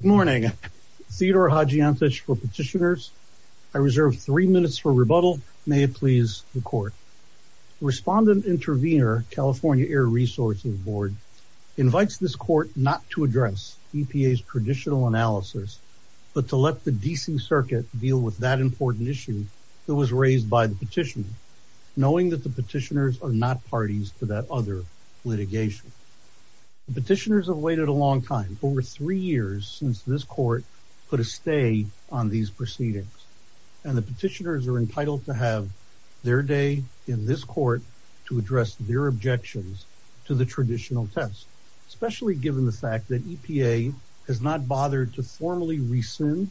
Good morning. Theodore Hadjiantich for Petitioners. I reserve three minutes for rebuttal. May it please the Court. Respondent Intervenor, California Air Resources Board, invites this Court not to address EPA's traditional analysis, but to let the DC Circuit deal with that important issue that was raised by the petitioner, knowing that the petitioners are not parties to that other litigation. The petitioners have waited a long time, over three years, since this Court put a stay on these proceedings, and the petitioners are entitled to have their day in this Court to address their objections to the traditional test, especially given the fact that EPA has not bothered to formally rescind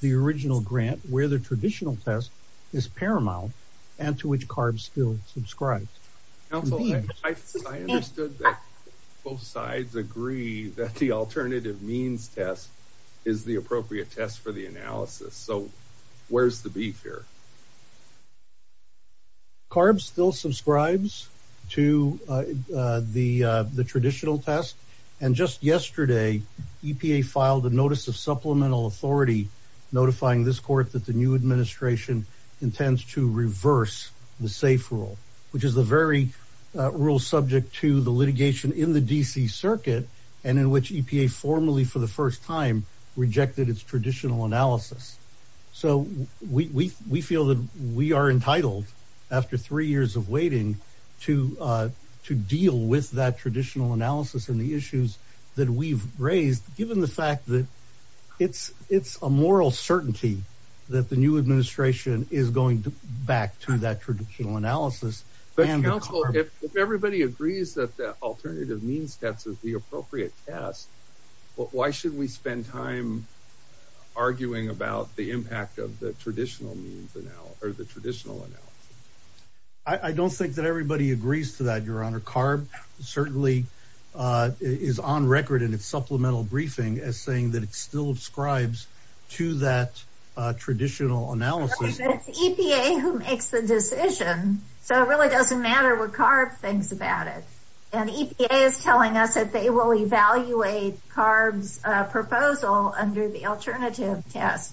the original grant where the traditional test is paramount and to which CARB still subscribes. Counsel, I understood that both sides agree that the alternative means test is the appropriate test for the analysis, so where's the beef here? CARB still subscribes to the traditional test, and just yesterday, EPA filed a notice of supplemental authority notifying this Court that the new administration intends to reverse the SAFE rule, which is the very rule subject to the litigation in the DC Circuit, and in which EPA formally, for the first time, rejected its traditional analysis. So, we feel that we are entitled, after three years of waiting, to deal with that traditional analysis and the issues that we've raised, given the fact that it's a moral certainty that the new administration is going back to that traditional analysis. But, Counsel, if everybody agrees that the alternative means test is the appropriate test, why should we spend time arguing about the impact of the traditional means, or the traditional analysis? I don't think that everybody agrees to that, Your Honor. CARB certainly is on record in its supplemental briefing as saying that it still subscribes to that traditional analysis. It's EPA who makes the decision, so it really doesn't matter what CARB thinks about it, and EPA is telling us that they will evaluate CARB's proposal under the alternative test.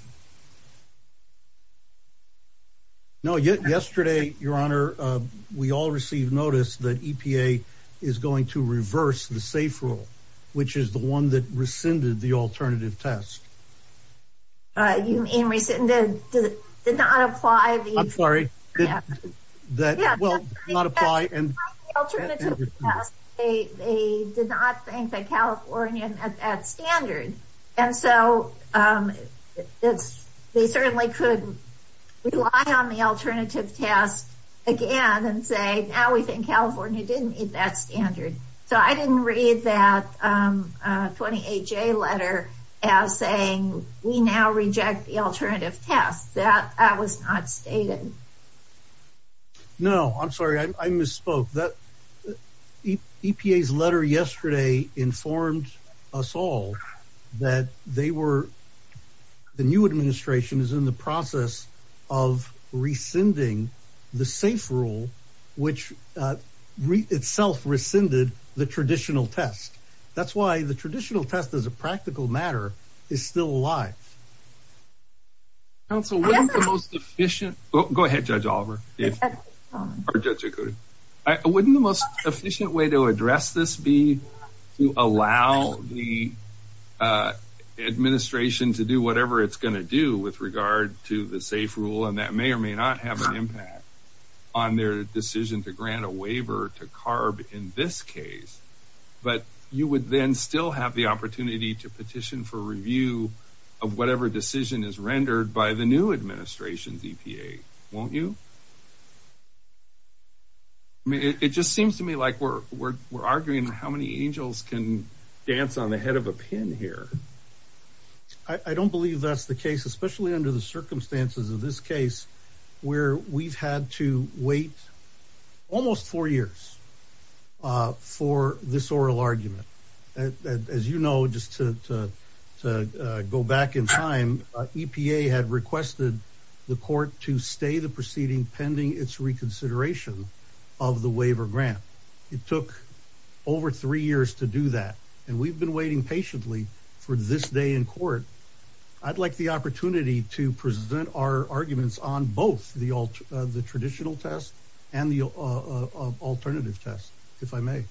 No, yesterday, Your Honor, we all received notice that EPA is going to reverse the SAFE rule, which is the one that rescinded the alternative test. You mean rescinded? Did it not apply? I'm sorry. That, well, did not apply. They did not think that California had that standard, and so they certainly could rely on the alternative test again and say, now we think California didn't meet that standard. So, I didn't read that 28-J letter as saying we now reject the alternative test. That was not stated. No, I'm sorry. I misspoke. EPA's letter yesterday informed us all that they were, the new administration is in the process of rescinding the SAFE rule, which itself rescinded the traditional test. That's why the traditional test, as a practical matter, is still alive. Counsel, wouldn't the most efficient, go ahead, Judge Oliver, or Judge to do whatever it's going to do with regard to the SAFE rule, and that may or may not have an impact on their decision to grant a waiver to CARB in this case, but you would then still have the opportunity to petition for review of whatever decision is rendered by the new administration's EPA, won't you? I mean, it just seems to me like we're arguing how many angels can I don't believe that's the case, especially under the circumstances of this case, where we've had to wait almost four years for this oral argument. As you know, just to go back in time, EPA had requested the court to stay the proceeding pending its reconsideration of the waiver grant. It took over three years to do that, and we've been waiting patiently for this day in court. I'd like the opportunity to present our arguments on both the traditional test and the alternative test, if I may.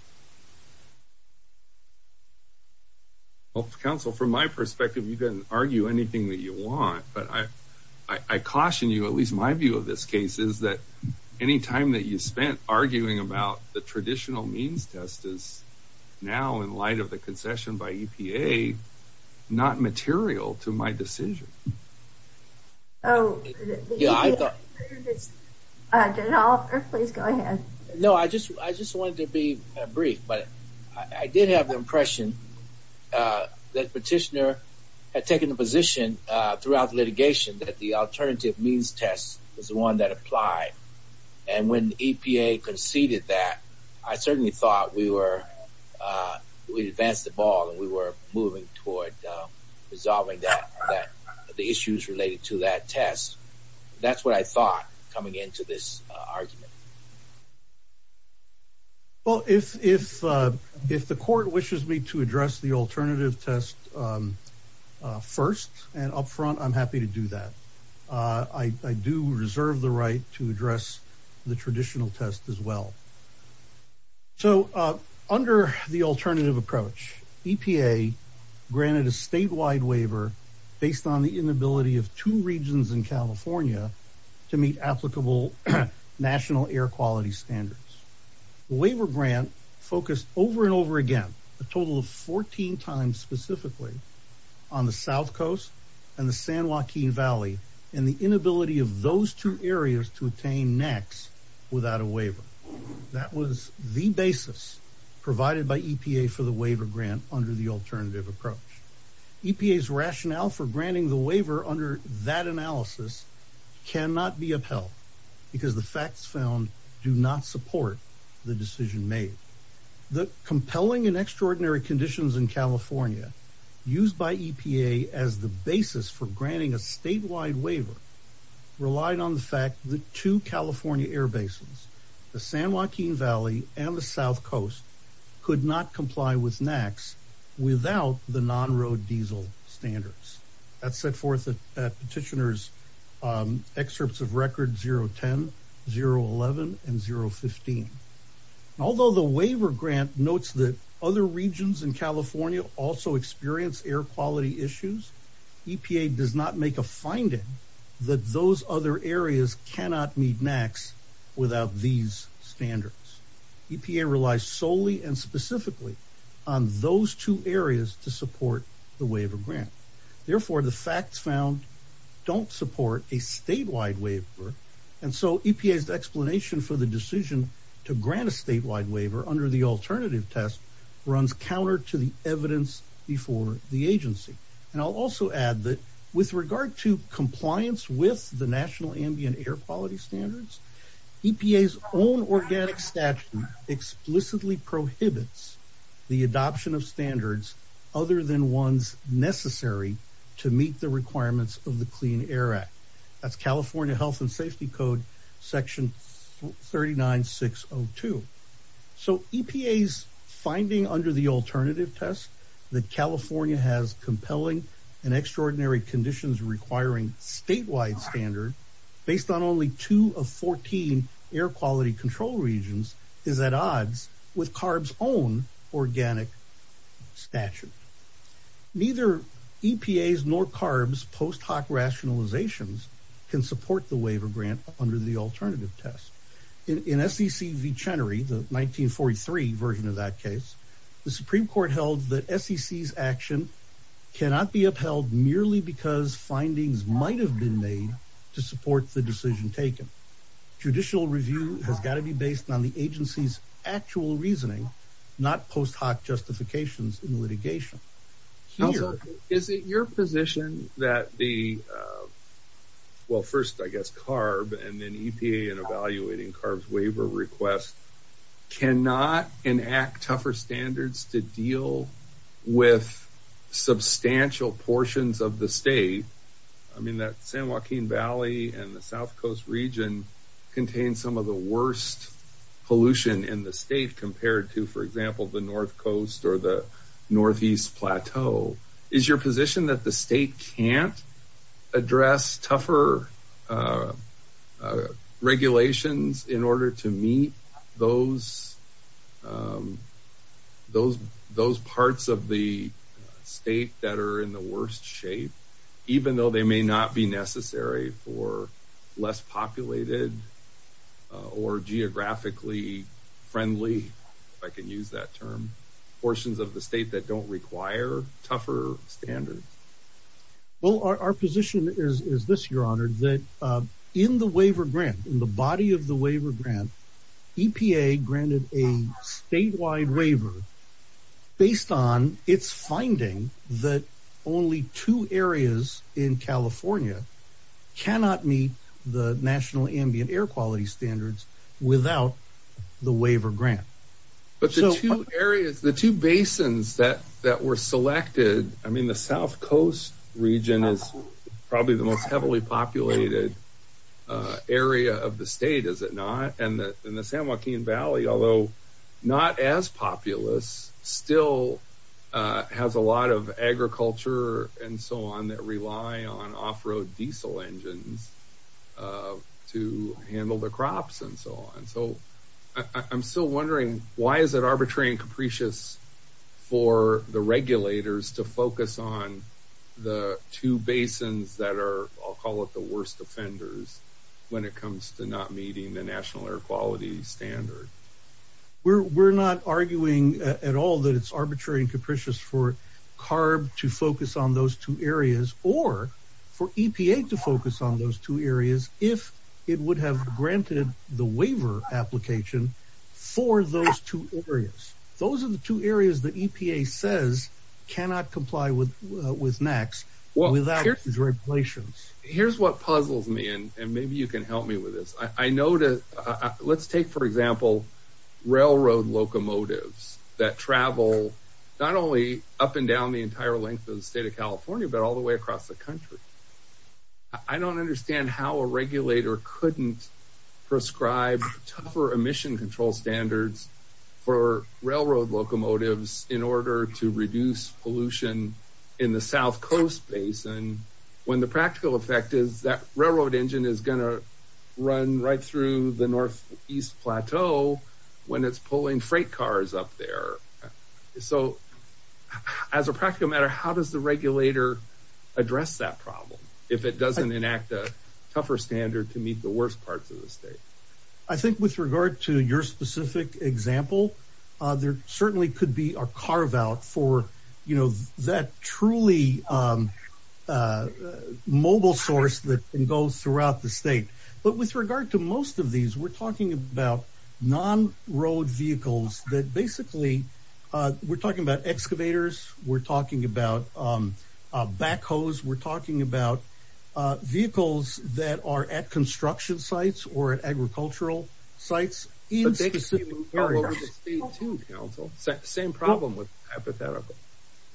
Well, Counsel, from my perspective, you can argue anything that you want, but I caution you, at least my view of this case, is that any time that you spent arguing about the traditional means test is now, in light of the concession by EPA, not material to my decision. I just wanted to be brief, but I did have the impression that the petitioner had taken the position throughout litigation that the alternative means test was the one that applied, and when thought we advanced the ball and we were moving toward resolving the issues related to that test, that's what I thought coming into this argument. Well, if the court wishes me to address the alternative test first and up front, I'm happy to do that. I do reserve the right to address the traditional test as well. So, under the alternative approach, EPA granted a statewide waiver based on the inability of two regions in California to meet applicable national air quality standards. The waiver grant focused over and over again, a total of 14 times specifically, on the South Coast and the San Joaquin Valley, and the inability of those two areas to obtain NACs without a waiver. That was the basis provided by EPA for the waiver grant under the alternative approach. EPA's rationale for granting the waiver under that analysis cannot be upheld because the facts found do not support the decision made. The compelling and extraordinary conditions in California used by EPA as the basis for granting a statewide waiver relied on the fact that two California air basins, the San Joaquin Valley and the South Coast, could not comply with NACs without the non-road diesel standards. That set forth the petitioner's excerpts of record 010, 011, and 015. Although the waiver grant notes that other regions in those other areas cannot meet NACs without these standards, EPA relies solely and specifically on those two areas to support the waiver grant. Therefore, the facts found don't support a statewide waiver. And so, EPA's explanation for the decision to grant a statewide waiver under the alternative test runs counter to the evidence before the agency. And I'll also add that regard to compliance with the National Ambient Air Quality Standards, EPA's own organic statute explicitly prohibits the adoption of standards other than ones necessary to meet the requirements of the Clean Air Act. That's California Health and Safety Code section 39602. So, EPA's finding under the alternative test that California has compelling and extraordinary conditions requiring statewide standard based on only two of 14 air quality control regions is at odds with CARB's own organic statute. Neither EPA's nor CARB's post hoc rationalizations can support the waiver grant under the alternative test. In SEC v. Chenery, the 1943 version of that case, the Supreme Court held that SEC's action cannot be upheld merely because findings might have been made to support the decision taken. Judicial review has got to be based on the agency's actual reasoning, not post hoc justifications in litigation. Also, is it your position that the, well, first I guess CARB and then EPA in evaluating CARB's waiver request cannot enact tougher standards to deal with substantial portions of the state? I mean, that San Joaquin Valley and the South Coast region contains some of the worst pollution in the state compared to, for example, the North Coast or the Northeast Plateau. Is your position that the state can't address tougher regulations in order to meet those parts of the state that are in the worst shape, even though they may not be necessary for less populated or geographically friendly, if I can use that term, portions of the state that don't require tougher standards? Well, our position is this, your honor, that in the waiver grant, in the body of the waiver grant, EPA granted a statewide waiver based on its finding that only two areas in California cannot meet the national ambient air quality standards without the waiver grant. But the two areas, the two basins that were selected, I mean, the South Coast region is probably the most heavily populated area of the state, is it not? And the San Joaquin Valley, although not as populous, still has a lot of agriculture and so on that rely on off-road diesel engines to handle the crops and so on. So I'm still wondering, why is it arbitrary and capricious for the regulators to focus on the two basins that are, I'll call it the worst offenders when it comes to not meeting the national air quality standard? We're not arguing at all that it's arbitrary and capricious for CARB to focus on those two areas, or for EPA to focus on those two areas, if it would have granted the waiver application for those two areas. Those are the two areas that EPA says cannot comply with with NAAQS without these regulations. Here's what puzzles me, and maybe you can help me with this. I know that, let's take, for example, railroad locomotives that travel not only up and down the entire length of the state of California, but all the way across the country. I don't understand how a regulator couldn't prescribe tougher emission control standards for railroad locomotives in order to reduce pollution in the south coast basin, when the practical effect is that railroad engine is going to run right through the northeast plateau when it's pulling freight cars up there. So, as a practical matter, how does the regulator address that problem if it doesn't enact a tougher standard to meet the worst parts of the state? I think with regard to your specific example, there certainly could be a carve-out for, you know, that truly mobile source that can go throughout the state. But with regard to most of these, we're talking about non-road vehicles that basically, we're talking about excavators, we're talking about backhoes, we're talking about vehicles that are at construction sites or at agricultural sites. Same problem with hypothetical.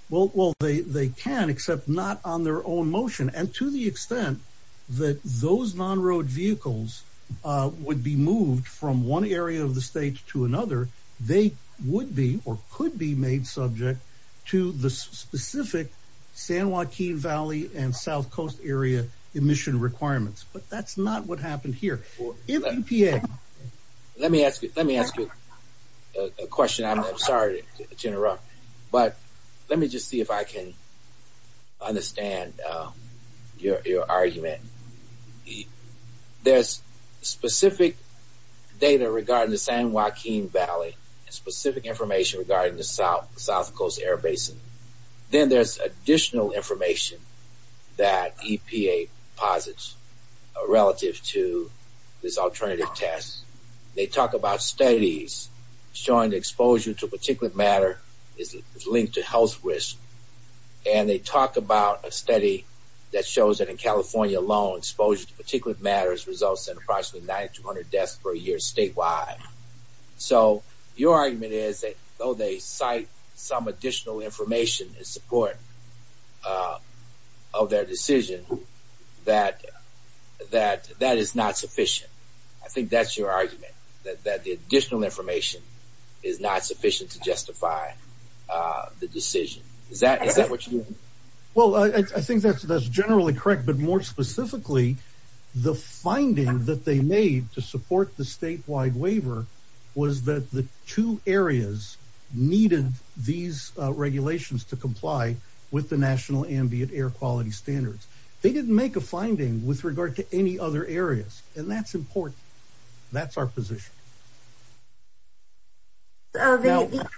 Well, they can, except not on their own motion. And to the extent that those non-road vehicles would be moved from one area of the state to another, they would be or could be made subject to the specific San Joaquin Valley and south coast area emission requirements. But that's not what happened here. Let me ask you a question. I'm asking you a question. There's specific data regarding the San Joaquin Valley and specific information regarding the south coast air basin. Then there's additional information that EPA posits relative to this alternative test. They talk about studies showing the exposure to California alone, exposure to particulate matters results in approximately 900 deaths per year statewide. So your argument is that though they cite some additional information in support of their decision, that is not sufficient. I think that's your argument, that the additional information is not sufficient to justify the decision. Is that what you mean? Well, I think that's generally correct. But more specifically, the finding that they made to support the statewide waiver was that the two areas needed these regulations to comply with the national ambient air quality standards. They didn't make a finding with regard to any other areas. And that's important. That's our position. So the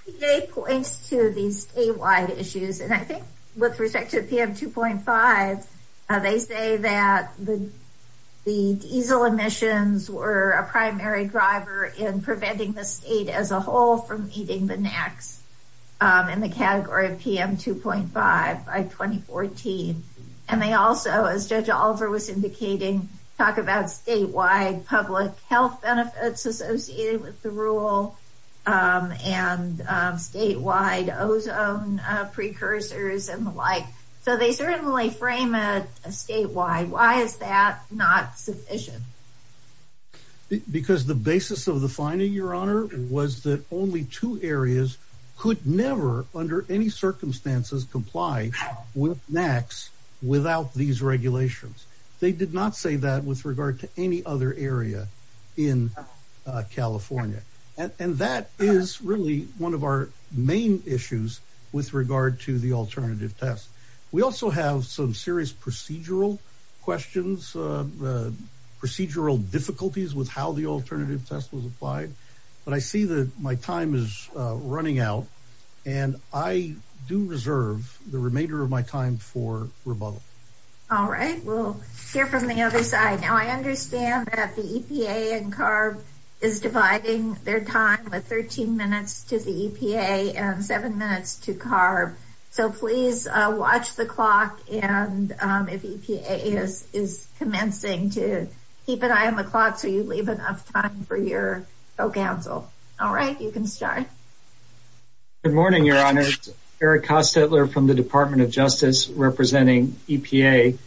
EPA points to these statewide issues. And I think with respect to PM 2.5, they say that the diesel emissions were a primary driver in preventing the state as a whole from eating the next in the category of PM 2.5 by 2014. And they also, as Judge Oliver was indicating, talk about statewide public health benefits associated with the rule, and statewide ozone precursors and the like. So they certainly frame it statewide. Why is that not sufficient? Because the basis of the finding, Your Honor, was that only two areas could never under any circumstances comply with NAAQS without these regulations. They did not say that with regard to any other area in California. And that is really one of our main issues with regard to the alternative test. We also have some serious procedural questions, procedural difficulties with how the alternative test was applied. But I see that my time is running out. And I do reserve the remainder of my time for rebuttal. All right. We'll hear from the other side. Now, I understand that the EPA and CARB is dividing their time with 13 minutes to the EPA and seven minutes to CARB. So please watch the clock. And if EPA is commencing to keep an eye on the clock, so you leave enough time for your counsel. All right, you can start. Good morning, Your Honor. Eric Kostetler from the Department of Justice representing EPA.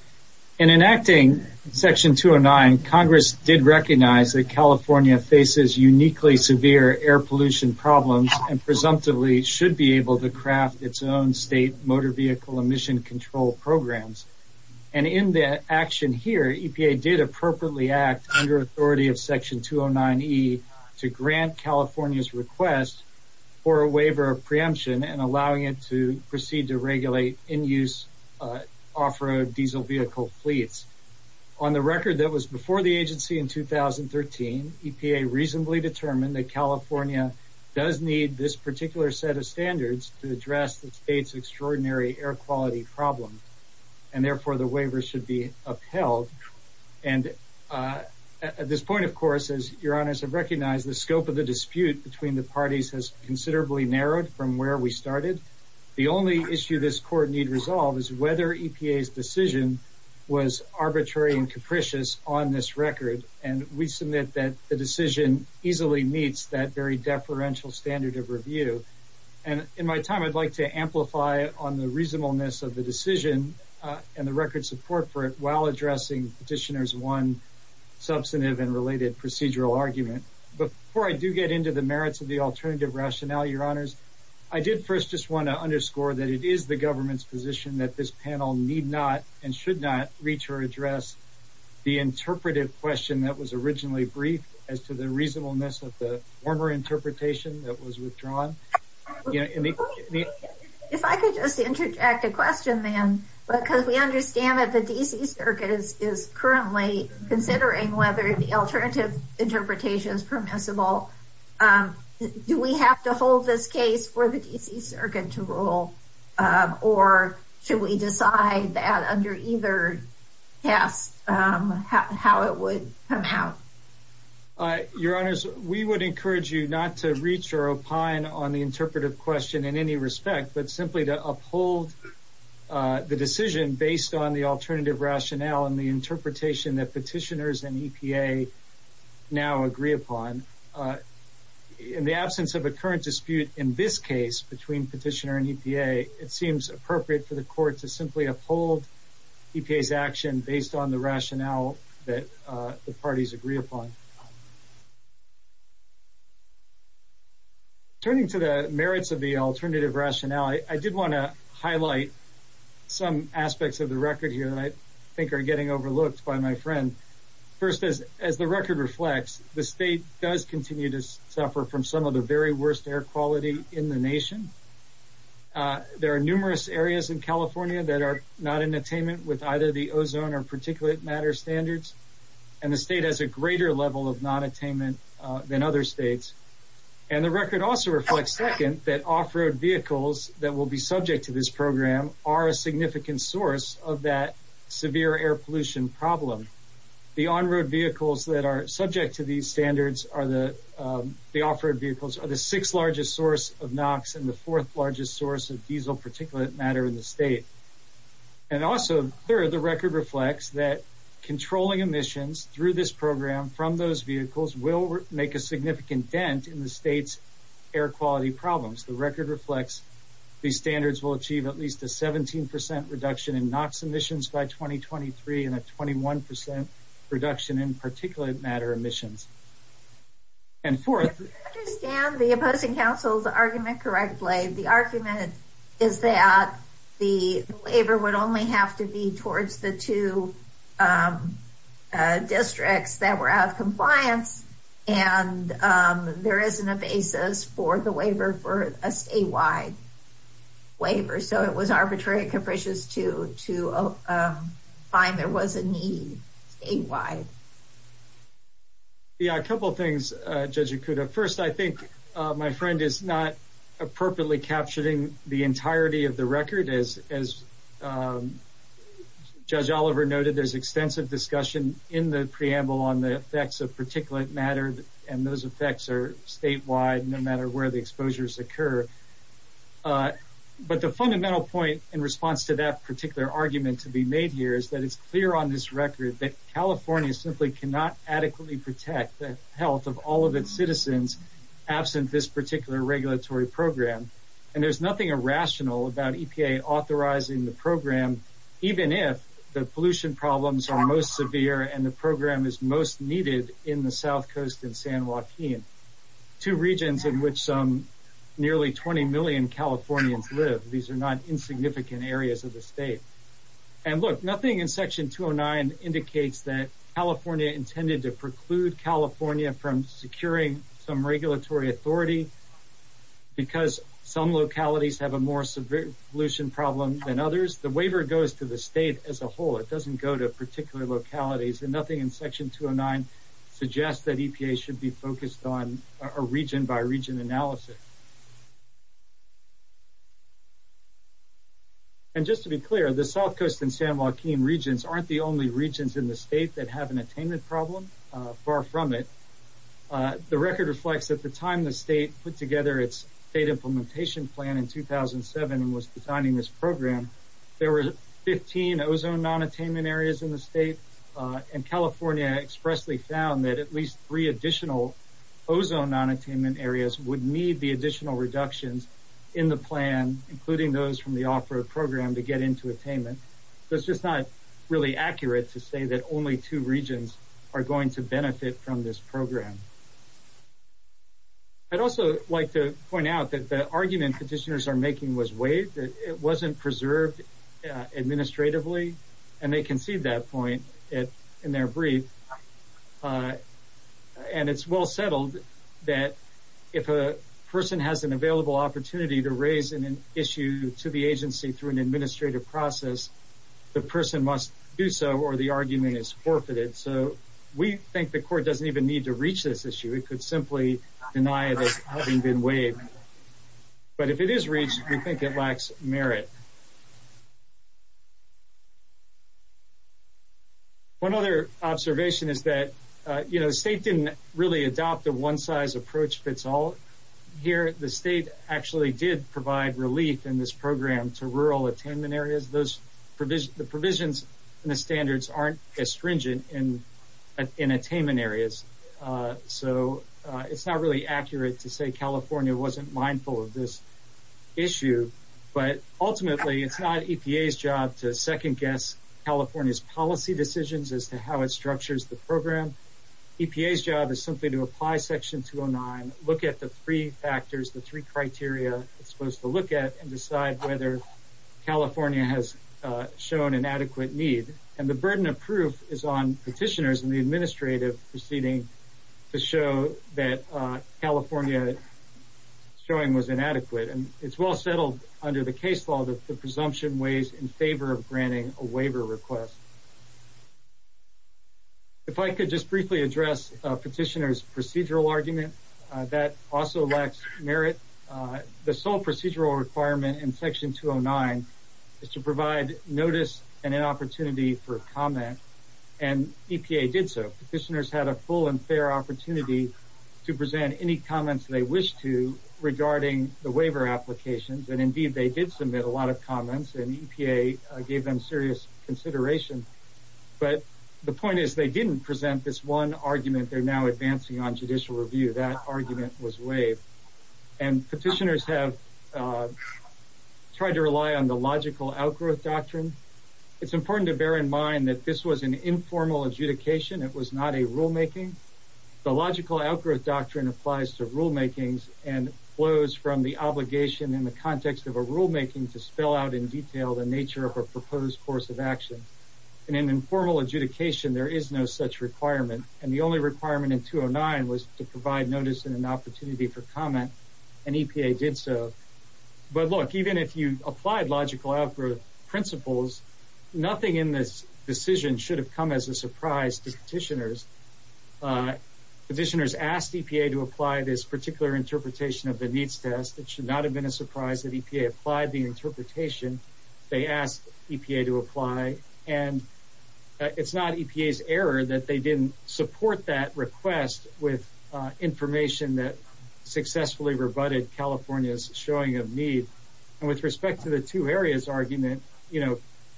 In enacting Section 209, Congress did recognize that California faces uniquely severe air pollution problems and presumptively should be able to craft its own state motor vehicle emission control programs. And in the action here, EPA did appropriately act under authority of Section 209E to grant California's request for a waiver of preemption and allowing it to proceed to regulate in-use off-road diesel vehicle fleets. On the record that was before the agency in 2013, EPA reasonably determined that California does need this particular set of standards to address the state's extraordinary air quality problem. And therefore, the waiver should be upheld. And at this point, of course, as Your Honors have recognized, the scope of the dispute between the parties has considerably narrowed from where we started. The only issue this court need resolve is whether EPA's decision was arbitrary and capricious on this record. And we submit that the decision easily meets that very deferential standard of review. And in my time, I'd like to amplify on the reasonableness of the decision and the record support for it while addressing Petitioner's one substantive and related procedural argument. But before I do get into the merits of the alternative rationale, Your Honors, I did first just want to underscore that it is the government's position that this panel need not and should not reach or address the interpretive question that was originally briefed as to the reasonableness of the former interpretation that was withdrawn. If I could just interject a question then, because we understand that the D.C. Circuit is currently considering whether the alternative interpretation is permissible. Do we have to hold this case for the D.C. Circuit to rule? Or should we decide that under either case how it would come out? Your Honors, we would encourage you not to reach or opine on the interpretive question in any respect, but simply to uphold the decision based on the alternative rationale and the interpretation that Petitioners and EPA now agree upon. In the absence of a current dispute in this case between Petitioner and EPA, it seems appropriate for the Court to simply uphold EPA's action based on the rationale that the parties agree upon. Turning to the merits of the alternative rationale, I did want to highlight some aspects of the record here that I think are getting overlooked by my friend. First, as the record reflects, the state does continue to suffer from some of the very worst air quality in the nation. There are numerous areas in California that are not in attainment with either the ozone or particulate matter standards, and the state has a greater level of non-attainment than other states. And the record also reflects, second, that off-road vehicles that will be subject to this program are a significant source of that severe air pollution problem. The on-road vehicles that are subject to these standards, the off-road vehicles, are the sixth largest source of NOx and the fourth largest source of diesel particulate matter in the state. And also, third, the record reflects that controlling emissions through this program from those vehicles will make a significant dent in the state's air quality problems. The record reflects these standards will achieve at least a 17 percent reduction in NOx emissions by 2023 and a 21 percent reduction in particulate matter emissions. And fourth... If I understand the opposing counsel's argument correctly, the argument is that the waiver would only have to be towards the two districts that were out of compliance, and there isn't a basis for the waiver for a statewide waiver. So it was arbitrary and capricious to find there was a need statewide. Yeah, a couple things, Judge Okuda. First, I think my friend is not appropriately capturing the entirety of the record. As Judge Oliver noted, there's extensive discussion in the preamble on the effects of particulate matter, and those effects are statewide no matter where the exposures occur. But the fundamental point in response to that particular argument to be made here is that it's clear on this record that California simply cannot adequately protect the health of all of its citizens absent this particular regulatory program. And there's nothing irrational about EPA authorizing the program, even if the pollution problems are most severe and the program is most needed in the South Coast and San Joaquin, two regions in which some nearly 20 million Californians live. These are not insignificant areas of the state. And look, nothing in Section 209 indicates that California intended to preclude California from securing some regulatory authority because some localities have a more severe pollution problem than others. The waiver goes to the state as a whole. It doesn't go to particular localities, and nothing in Section 209 suggests that EPA should be focused on a region-by-region analysis. And just to be clear, the South Coast and San Joaquin regions aren't the only regions in the state that have an attainment problem. Far from it. The record reflects that the time the state put together its state implementation plan in 2007 and was designing this program, there were 15 ozone non-attainment areas in the state, and California expressly found that at least three additional ozone non-attainment areas would meet the attainment requirement. And so, it's just not accurate to say that only two regions are going to benefit from this program. I'd also like to point out that the argument petitioners are making was waived. It wasn't preserved administratively, and they concede that point in their brief. And it's well settled that if a person has an available opportunity to raise an issue to the agency through an administrative process, the person must do so, or the argument is forfeited. So, we think the court doesn't even need to reach this issue. It could simply deny this having been waived. But if it is reached, we think it lacks merit. One other observation is that, you know, the state didn't really adopt a one-size-approach. Here, the state actually did provide relief in this program to rural attainment areas. The provisions and the standards aren't as stringent in attainment areas. So, it's not really accurate to say California wasn't mindful of this issue. But ultimately, it's not EPA's job to second-guess California's policy decisions as to how it structures the program. EPA's job is simply to apply Section 209, look at the three factors, the three criteria it's supposed to look at, and decide whether California has shown an adequate need. And the burden of proof is on petitioners and the administrative proceeding to show that California showing was inadequate. And it's well settled under the case law that the presumption weighs in favor of granting a waiver request. If I could just briefly address a petitioner's procedural argument, that also lacks merit. The sole procedural requirement in Section 209 is to provide notice and an opportunity for comment. And EPA did so. Petitioners had a fair opportunity to present any comments they wished to regarding the waiver applications. And indeed, they did submit a lot of comments. And EPA gave them serious consideration. But the point is, they didn't present this one argument. They're now advancing on judicial review. That argument was waived. And petitioners have tried to rely on the logical outgrowth doctrine. It's important to bear in mind that this was an informal adjudication. It was not a rulemaking. The logical outgrowth doctrine applies to rulemakings and flows from the obligation in the context of a rulemaking to spell out in detail the nature of a proposed course of action. In an informal adjudication, there is no such requirement. And the only requirement in 209 was to provide notice and an opportunity for comment. And EPA did so. But look, even if you applied logical outgrowth principles, nothing in this decision should have come as a surprise to petitioners. Petitioners asked EPA to apply this particular interpretation of the needs test. It should not have been a surprise that EPA applied the interpretation. They asked EPA to apply. And it's not EPA's error that they didn't support that request with information that successfully rebutted California's showing of need. And with respect to the two areas argument,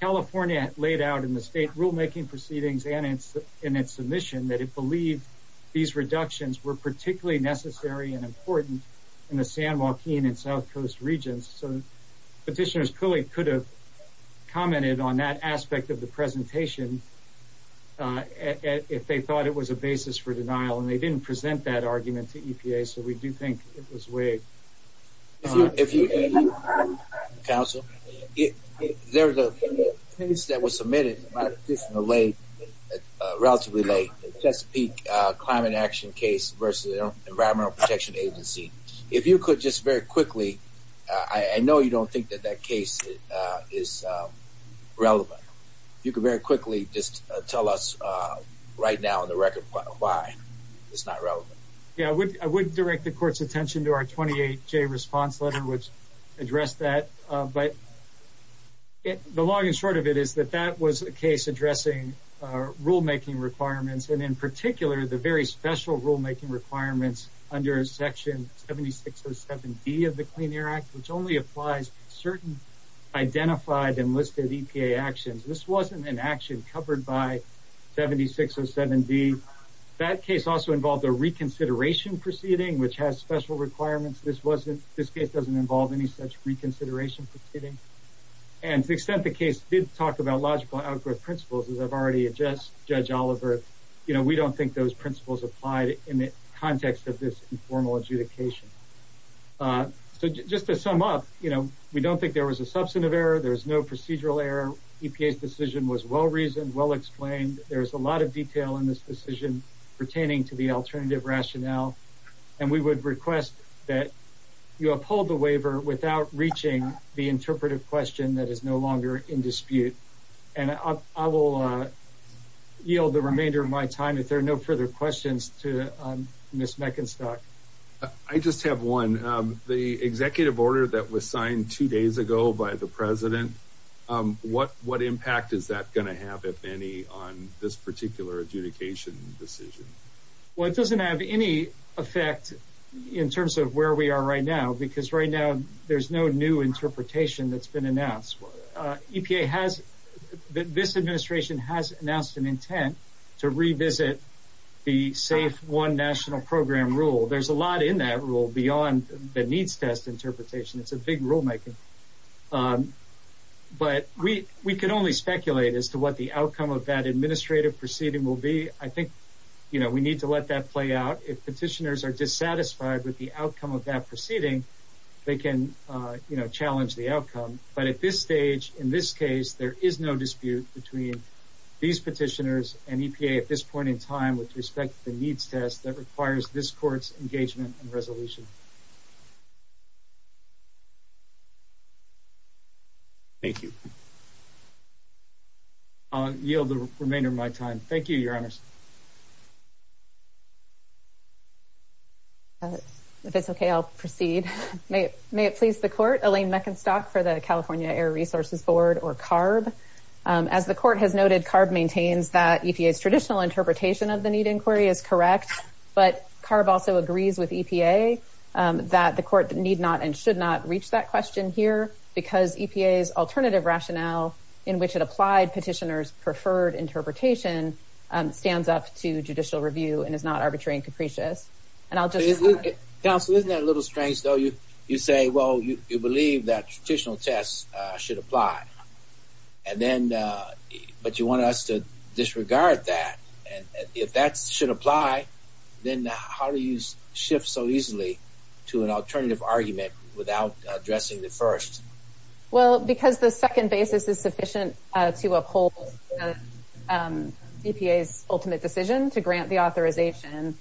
California laid out in the state rulemaking proceedings and in its submission that it believed these reductions were particularly necessary and important in the San Joaquin and South Coast regions. So petitioners clearly could have commented on that aspect of the presentation if they thought it was a basis for denial. And they didn't present that argument to EPA. So we do think it was waived. If you, counsel, there's a case that was submitted relatively late, the Chesapeake Climate Action case versus the Environmental Protection Agency. If you could just very quickly, I know you don't think that that case is relevant. If you could very quickly just tell us right now on the record why it's not relevant. Yeah, I would direct the court's attention to our 28J response letter, which addressed that. But the long and short of it is that that was a case addressing rulemaking requirements. And in particular, the very special rulemaking requirements under Section 7607D of the Clean Air Act, which only applies certain identified enlisted EPA actions. This wasn't an action covered by 7607D. That case also involved a reconsideration proceeding, which has special requirements. This case doesn't involve any such reconsideration proceeding. And to the extent the case did talk about logical outgrowth principles, as I've already addressed, Judge Oliver, you know, we don't think those principles applied in the context of this informal adjudication. So just to sum up, you know, we don't think there was a substantive error. There's no procedural error. EPA's decision was well reasoned, well explained. There's a lot of detail in this decision pertaining to the alternative rationale. And we would request that you uphold the waiver without reaching the interpretive question that is no longer in dispute. And I will yield the remainder of my time if there are no further questions to Ms. Meckenstock. I just have one. The executive order that was signed two days ago by the President, what impact is that going to have, if any, on this particular adjudication decision? Well, it doesn't have any effect in terms of where we are right now, because right now there's no new interpretation that's been announced. EPA has, this administration has announced an intent to revisit the safe one national program rule. There's a lot in that rule beyond the needs test interpretation. It's a big rulemaking. But we could only speculate as to what the outcome of that administrative proceeding will be. I think, you know, we need to let that play out. If petitioners are dissatisfied with the outcome of that proceeding, they can, you know, challenge the outcome. But at this stage, in this case, there is no dispute between these petitioners and EPA at this point in time with respect to the needs test that requires this court's engagement and resolution. Thank you. I'll yield the remainder of my time. Thank you, Your Honors. If it's okay, I'll proceed. May it please the court, Elaine Meckenstock for the question. As the court has noted, CARB maintains that EPA's traditional interpretation of the need inquiry is correct. But CARB also agrees with EPA that the court need not and should not reach that question here because EPA's alternative rationale in which it applied petitioners' preferred interpretation stands up to judicial review and is not arbitrary and capricious. And I'll just... Counsel, isn't that a little strange, though? You say, well, you believe that traditional tests should apply. But you want us to disregard that. And if that should apply, then how do you shift so easily to an alternative argument without addressing the first? Well, because the second basis is sufficient to uphold EPA's ultimate decision to grant the authorization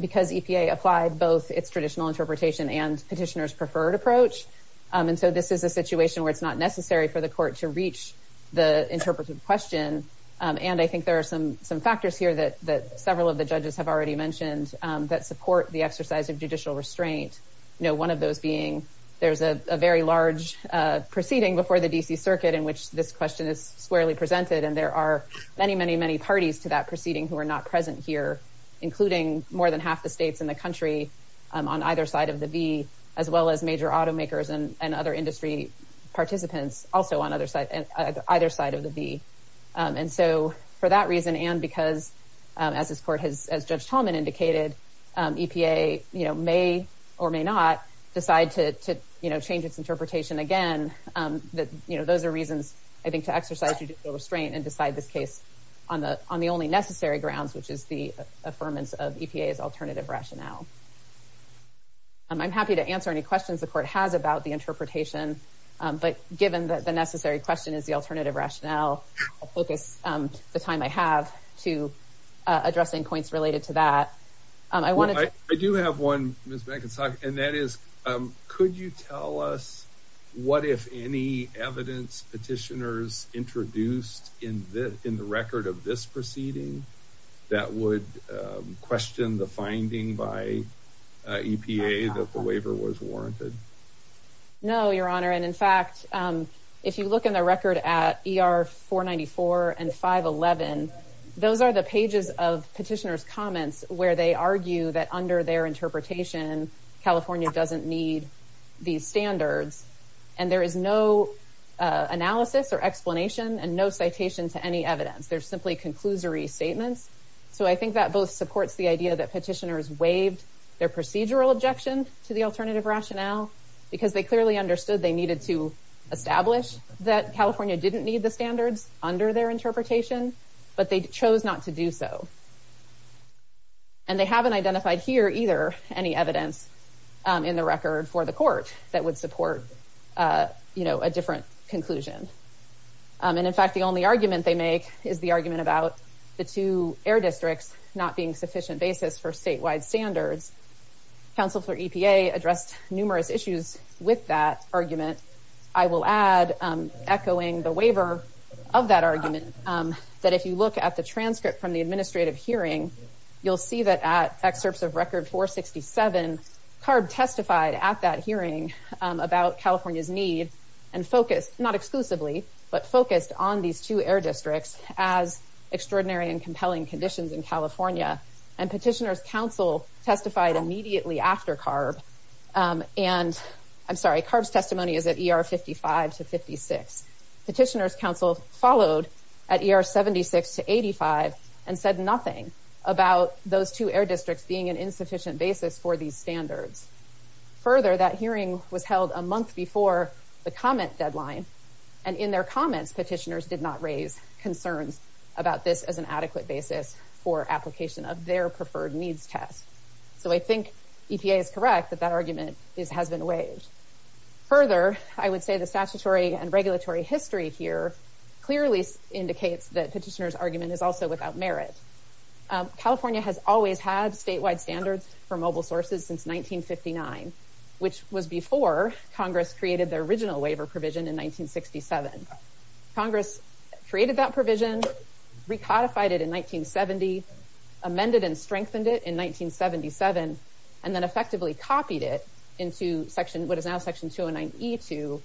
because EPA applied both its traditional interpretation and petitioners' preferred approach. And so this is a situation where it's not necessary for the court to reach the interpretive question. And I think there are some factors here that several of the judges have already mentioned that support the exercise of judicial restraint. You know, one of those being there's a very large proceeding before the D.C. Circuit in which this question is squarely presented. And there are many, many, many parties to that proceeding who are not present here, including more than half the states in the country on either side of the V, as well as major automakers and other industry participants also on either side of the V. And so for that reason and because, as Judge Tallman indicated, EPA may or may not decide to change its interpretation again. Those are reasons, I think, to exercise judicial restraint and decide this case on the only necessary grounds, which is the affirmance of EPA's alternative rationale. I'm happy to answer any questions the court has about the interpretation, but given that the necessary question is the alternative rationale, I'll focus the time I have to addressing points related to that. I do have one, Ms. McIntosh, and that is could you tell us what, if any, evidence petitioners introduced in the record of this proceeding that would question the finding by EPA that the waiver was warranted? No, Your Honor. And in fact, if you look in the record at ER 494 and 511, those are the pages of petitioners' comments where they argue that under their interpretation, California doesn't need these standards. And there is no analysis or explanation and no citation to any evidence. They're simply conclusory statements. So I think that both supports the idea that petitioners waived their procedural objection to the alternative rationale because they clearly understood they needed to establish that California didn't need the standards under their interpretation, but they chose not to do so. And they haven't identified here either any evidence in the record for the court that would support, you know, a different conclusion. And in fact, the only argument they make is the argument about the two air districts not being sufficient basis for statewide standards. Counsel for EPA addressed numerous issues with that argument. I will add, echoing the waiver of that argument, that if you look at the transcript from the administrative hearing, you'll see that at excerpts of Record 467, CARB testified at that hearing about California's need and focused, not exclusively, but focused on these two air districts as extraordinary and compelling conditions in California. And petitioners' counsel testified immediately after CARB. And, I'm sorry, CARB's testimony is at ER 55 to 56. Petitioners' counsel followed at ER 76 to 85 and said nothing about those two air districts being an insufficient basis for these standards. Further, that hearing was held a month before the comment deadline. And in their comments, petitioners did not raise concerns about this as an adequate basis for application of their preferred needs test. So I think EPA is correct that that argument has been waived. Further, I would say the statutory and regulatory history here clearly indicates that petitioners' argument is also without merit. California has always had statewide standards for mobile sources since 1959, which was before Congress created the original waiver provision in 1967. Congress created that provision, recodified it in 1970, amended and strengthened it in 1977, and then effectively copied it into section, what is now section 209E2,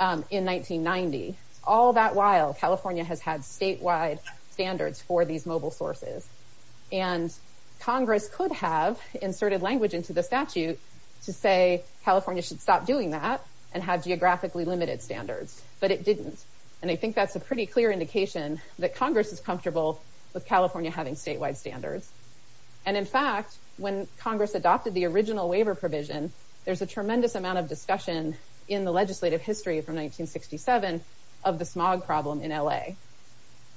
in 1990. All that while, California has had statewide standards for these mobile sources. And Congress could have inserted language into the statute to say California should stop doing that and have geographically limited standards, but it didn't. And I think that's a pretty clear indication that Congress is comfortable with California having statewide standards. And in fact, when Congress adopted the original waiver provision, there's a tremendous amount of discussion in the legislative history from 1967 of the smog problem in LA.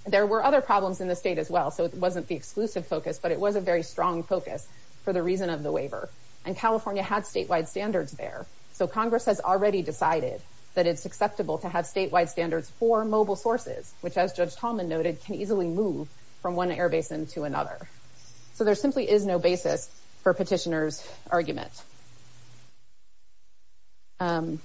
There were other problems in the state as well, so it wasn't the exclusive focus, but it was a very strong focus for the reason of the waiver. And California had statewide standards there, so Congress has already decided that it's acceptable to have statewide standards for mobile sources, which, as Judge Tallman noted, can easily move from one air basin to another. So there simply is no basis for petitioners' argument. And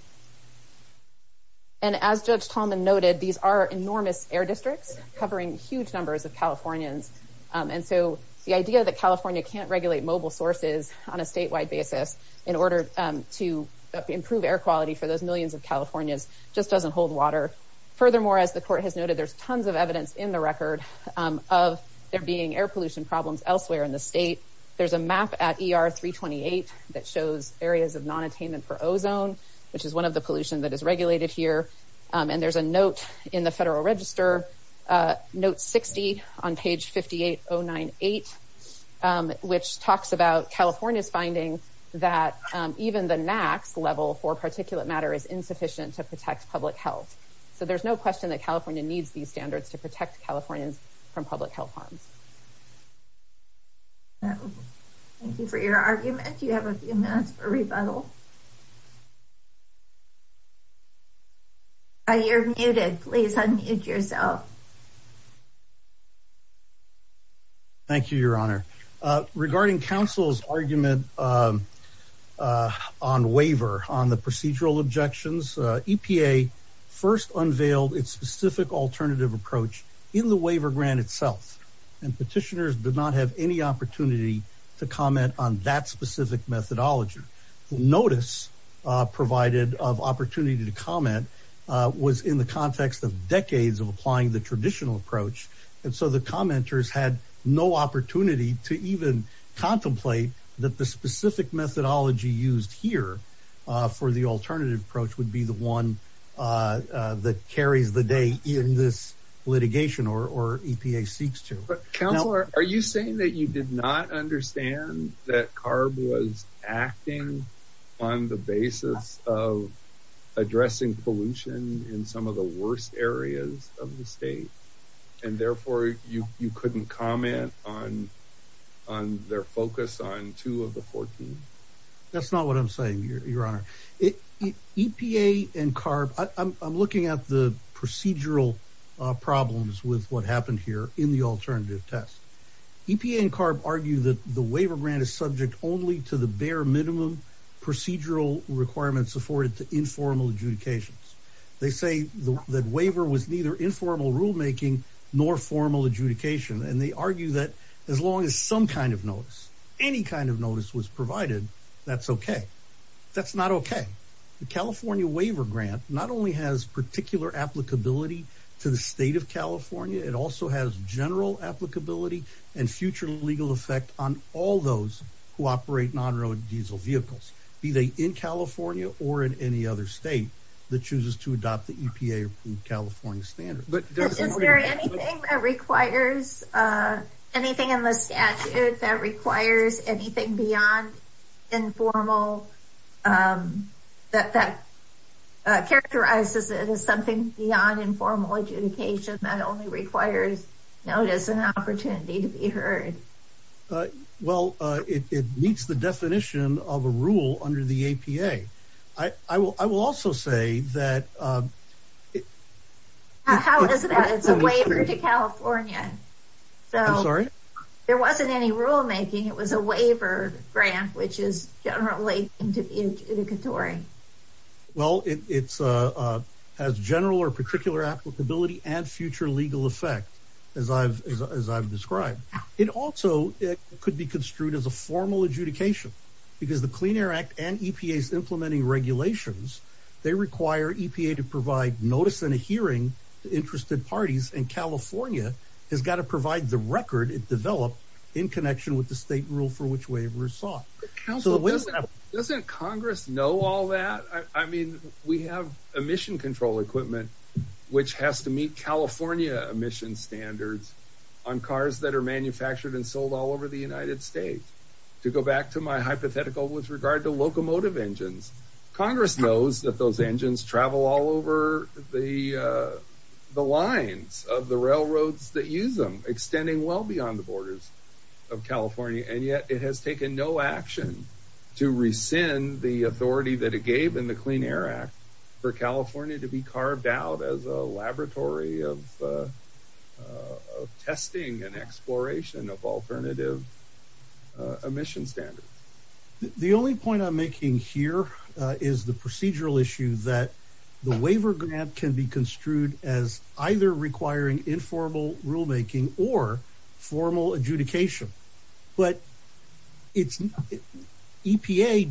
as Judge Tallman noted, these are enormous air districts covering huge numbers of Californians. And so the idea that California can't regulate mobile sources on a statewide basis in order to improve air quality for those millions of Californians just doesn't hold water. Furthermore, as the Court has noted, there's tons of evidence in the record of there being air pollution problems elsewhere in the state. There's a map at ER 328 that shows areas of non-attainment for ozone, which is one of the in the Federal Register. Note 60 on page 58098, which talks about California's finding that even the NAAQS level for particulate matter is insufficient to protect public health. So there's no question that California needs these standards to protect Californians from public health harms. Thank you for your argument. You have a few minutes for rebuttal. You're muted. Please unmute yourself. Thank you, Your Honor. Regarding counsel's argument on waiver, on the procedural objections, EPA first unveiled its specific alternative approach in the waiver grant itself. And petitioners did not have any opportunity to comment on that provided of opportunity to comment was in the context of decades of applying the traditional approach. And so the commenters had no opportunity to even contemplate that the specific methodology used here for the alternative approach would be the one that carries the day in this litigation or EPA seeks to. But counselor, are you saying that you did not understand that CARB was acting on the basis of addressing pollution in some of the worst areas of the state and therefore you couldn't comment on their focus on two of the 14? That's not what I'm saying, Your Honor. EPA and CARB, I'm looking at the procedural problems with what happened here in the alternative test. EPA and CARB argue that the waiver grant is subject only to the bare minimum procedural requirements afforded to informal adjudications. They say that waiver was neither informal rulemaking nor formal adjudication. And they argue that as long as some kind of notice, any kind of notice was provided, that's okay. That's not okay. The California waiver grant not only has particular applicability to the state of California, it also has general applicability and future legal effect on all those who operate non-road diesel vehicles, be they in California or in any other state that chooses to adopt the EPA California standard. But is there anything that requires anything in the statute that requires anything beyond informal, that characterizes it as something beyond informal adjudication that only requires notice and opportunity to be heard? Well, it meets the definition of a rule under the APA. I will also say that... How is that? It's a waiver to California. I'm sorry? There wasn't any rulemaking. It was a waiver grant, which is generally adjudicatory. Well, it has general or particular applicability and future legal effect, as I've described. It also could be construed as a formal adjudication because the Clean Air Act and EPA's implementing regulations, they require EPA to provide notice and a hearing to interested parties. And California has got to provide the record it developed in connection with the state rule for which waiver is sought. Council, doesn't Congress know all that? I mean, we have emission control equipment, which has to meet California emission standards on cars that are manufactured and sold all over the United States. To go back to my hypothetical with regard to locomotive engines, Congress knows that those engines travel over the lines of the railroads that use them, extending well beyond the borders of California. And yet it has taken no action to rescind the authority that it gave in the Clean Air Act for California to be carved out as a laboratory of testing and exploration of alternative emission standards. The only point I'm making here is the procedural issue that the waiver grant can be construed as either requiring informal rulemaking or formal adjudication. But EPA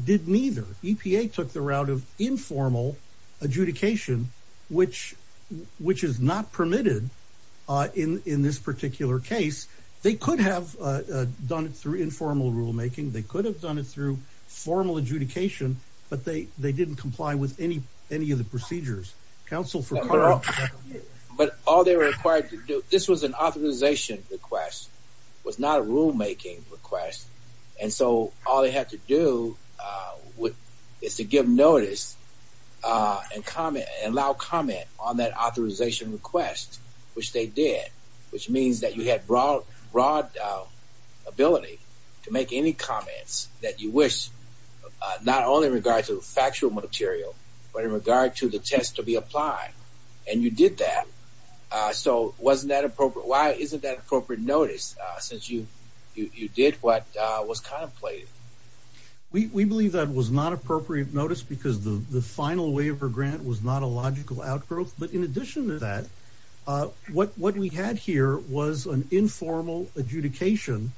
did neither. EPA took the route of informal adjudication, which is not permitted in this particular case. They could have done it through informal rulemaking. They could have done it through formal adjudication, but they didn't comply with any of the procedures. But all they were required to do, this was an authorization request, was not a rulemaking request. And so all they had to do is to give notice and allow comment on that authorization request, which they did. Which means that you had broad ability to make any comments that you wish, not only in regard to factual material, but in regard to the test to be applied. And you did that. So wasn't that appropriate? Why isn't that appropriate notice since you did what was contemplated? We believe that was not appropriate notice because the final waiver grant was not a logical outgrowth. But in addition to that, what we had here was an adjudication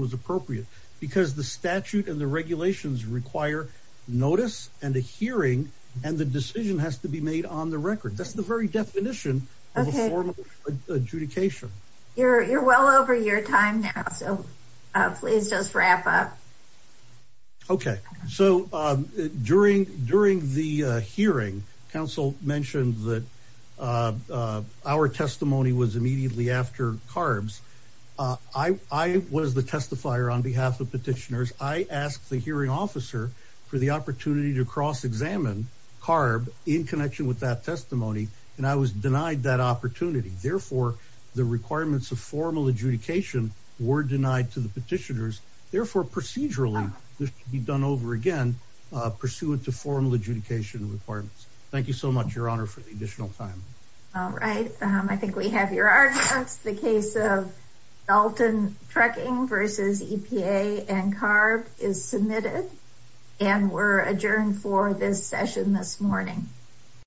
was appropriate because the statute and the regulations require notice and a hearing, and the decision has to be made on the record. That's the very definition of a formal adjudication. You're well over your time now, so please just wrap up. Okay. So during the hearing, council mentioned that our testimony was immediately after CARBS. I was the testifier on behalf of petitioners. I asked the hearing officer for the opportunity to cross-examine CARB in connection with that testimony, and I was denied that opportunity. Therefore, the requirements of formal adjudication were denied to the petitioners. Therefore, procedurally, this could be done over again pursuant to formal adjudication requirements. Thank you so much, Your Honor, for the additional time. All right. I think we have your arguments. The case of Dalton Trucking versus EPA and CARB is submitted, and we're adjourned for this session this morning.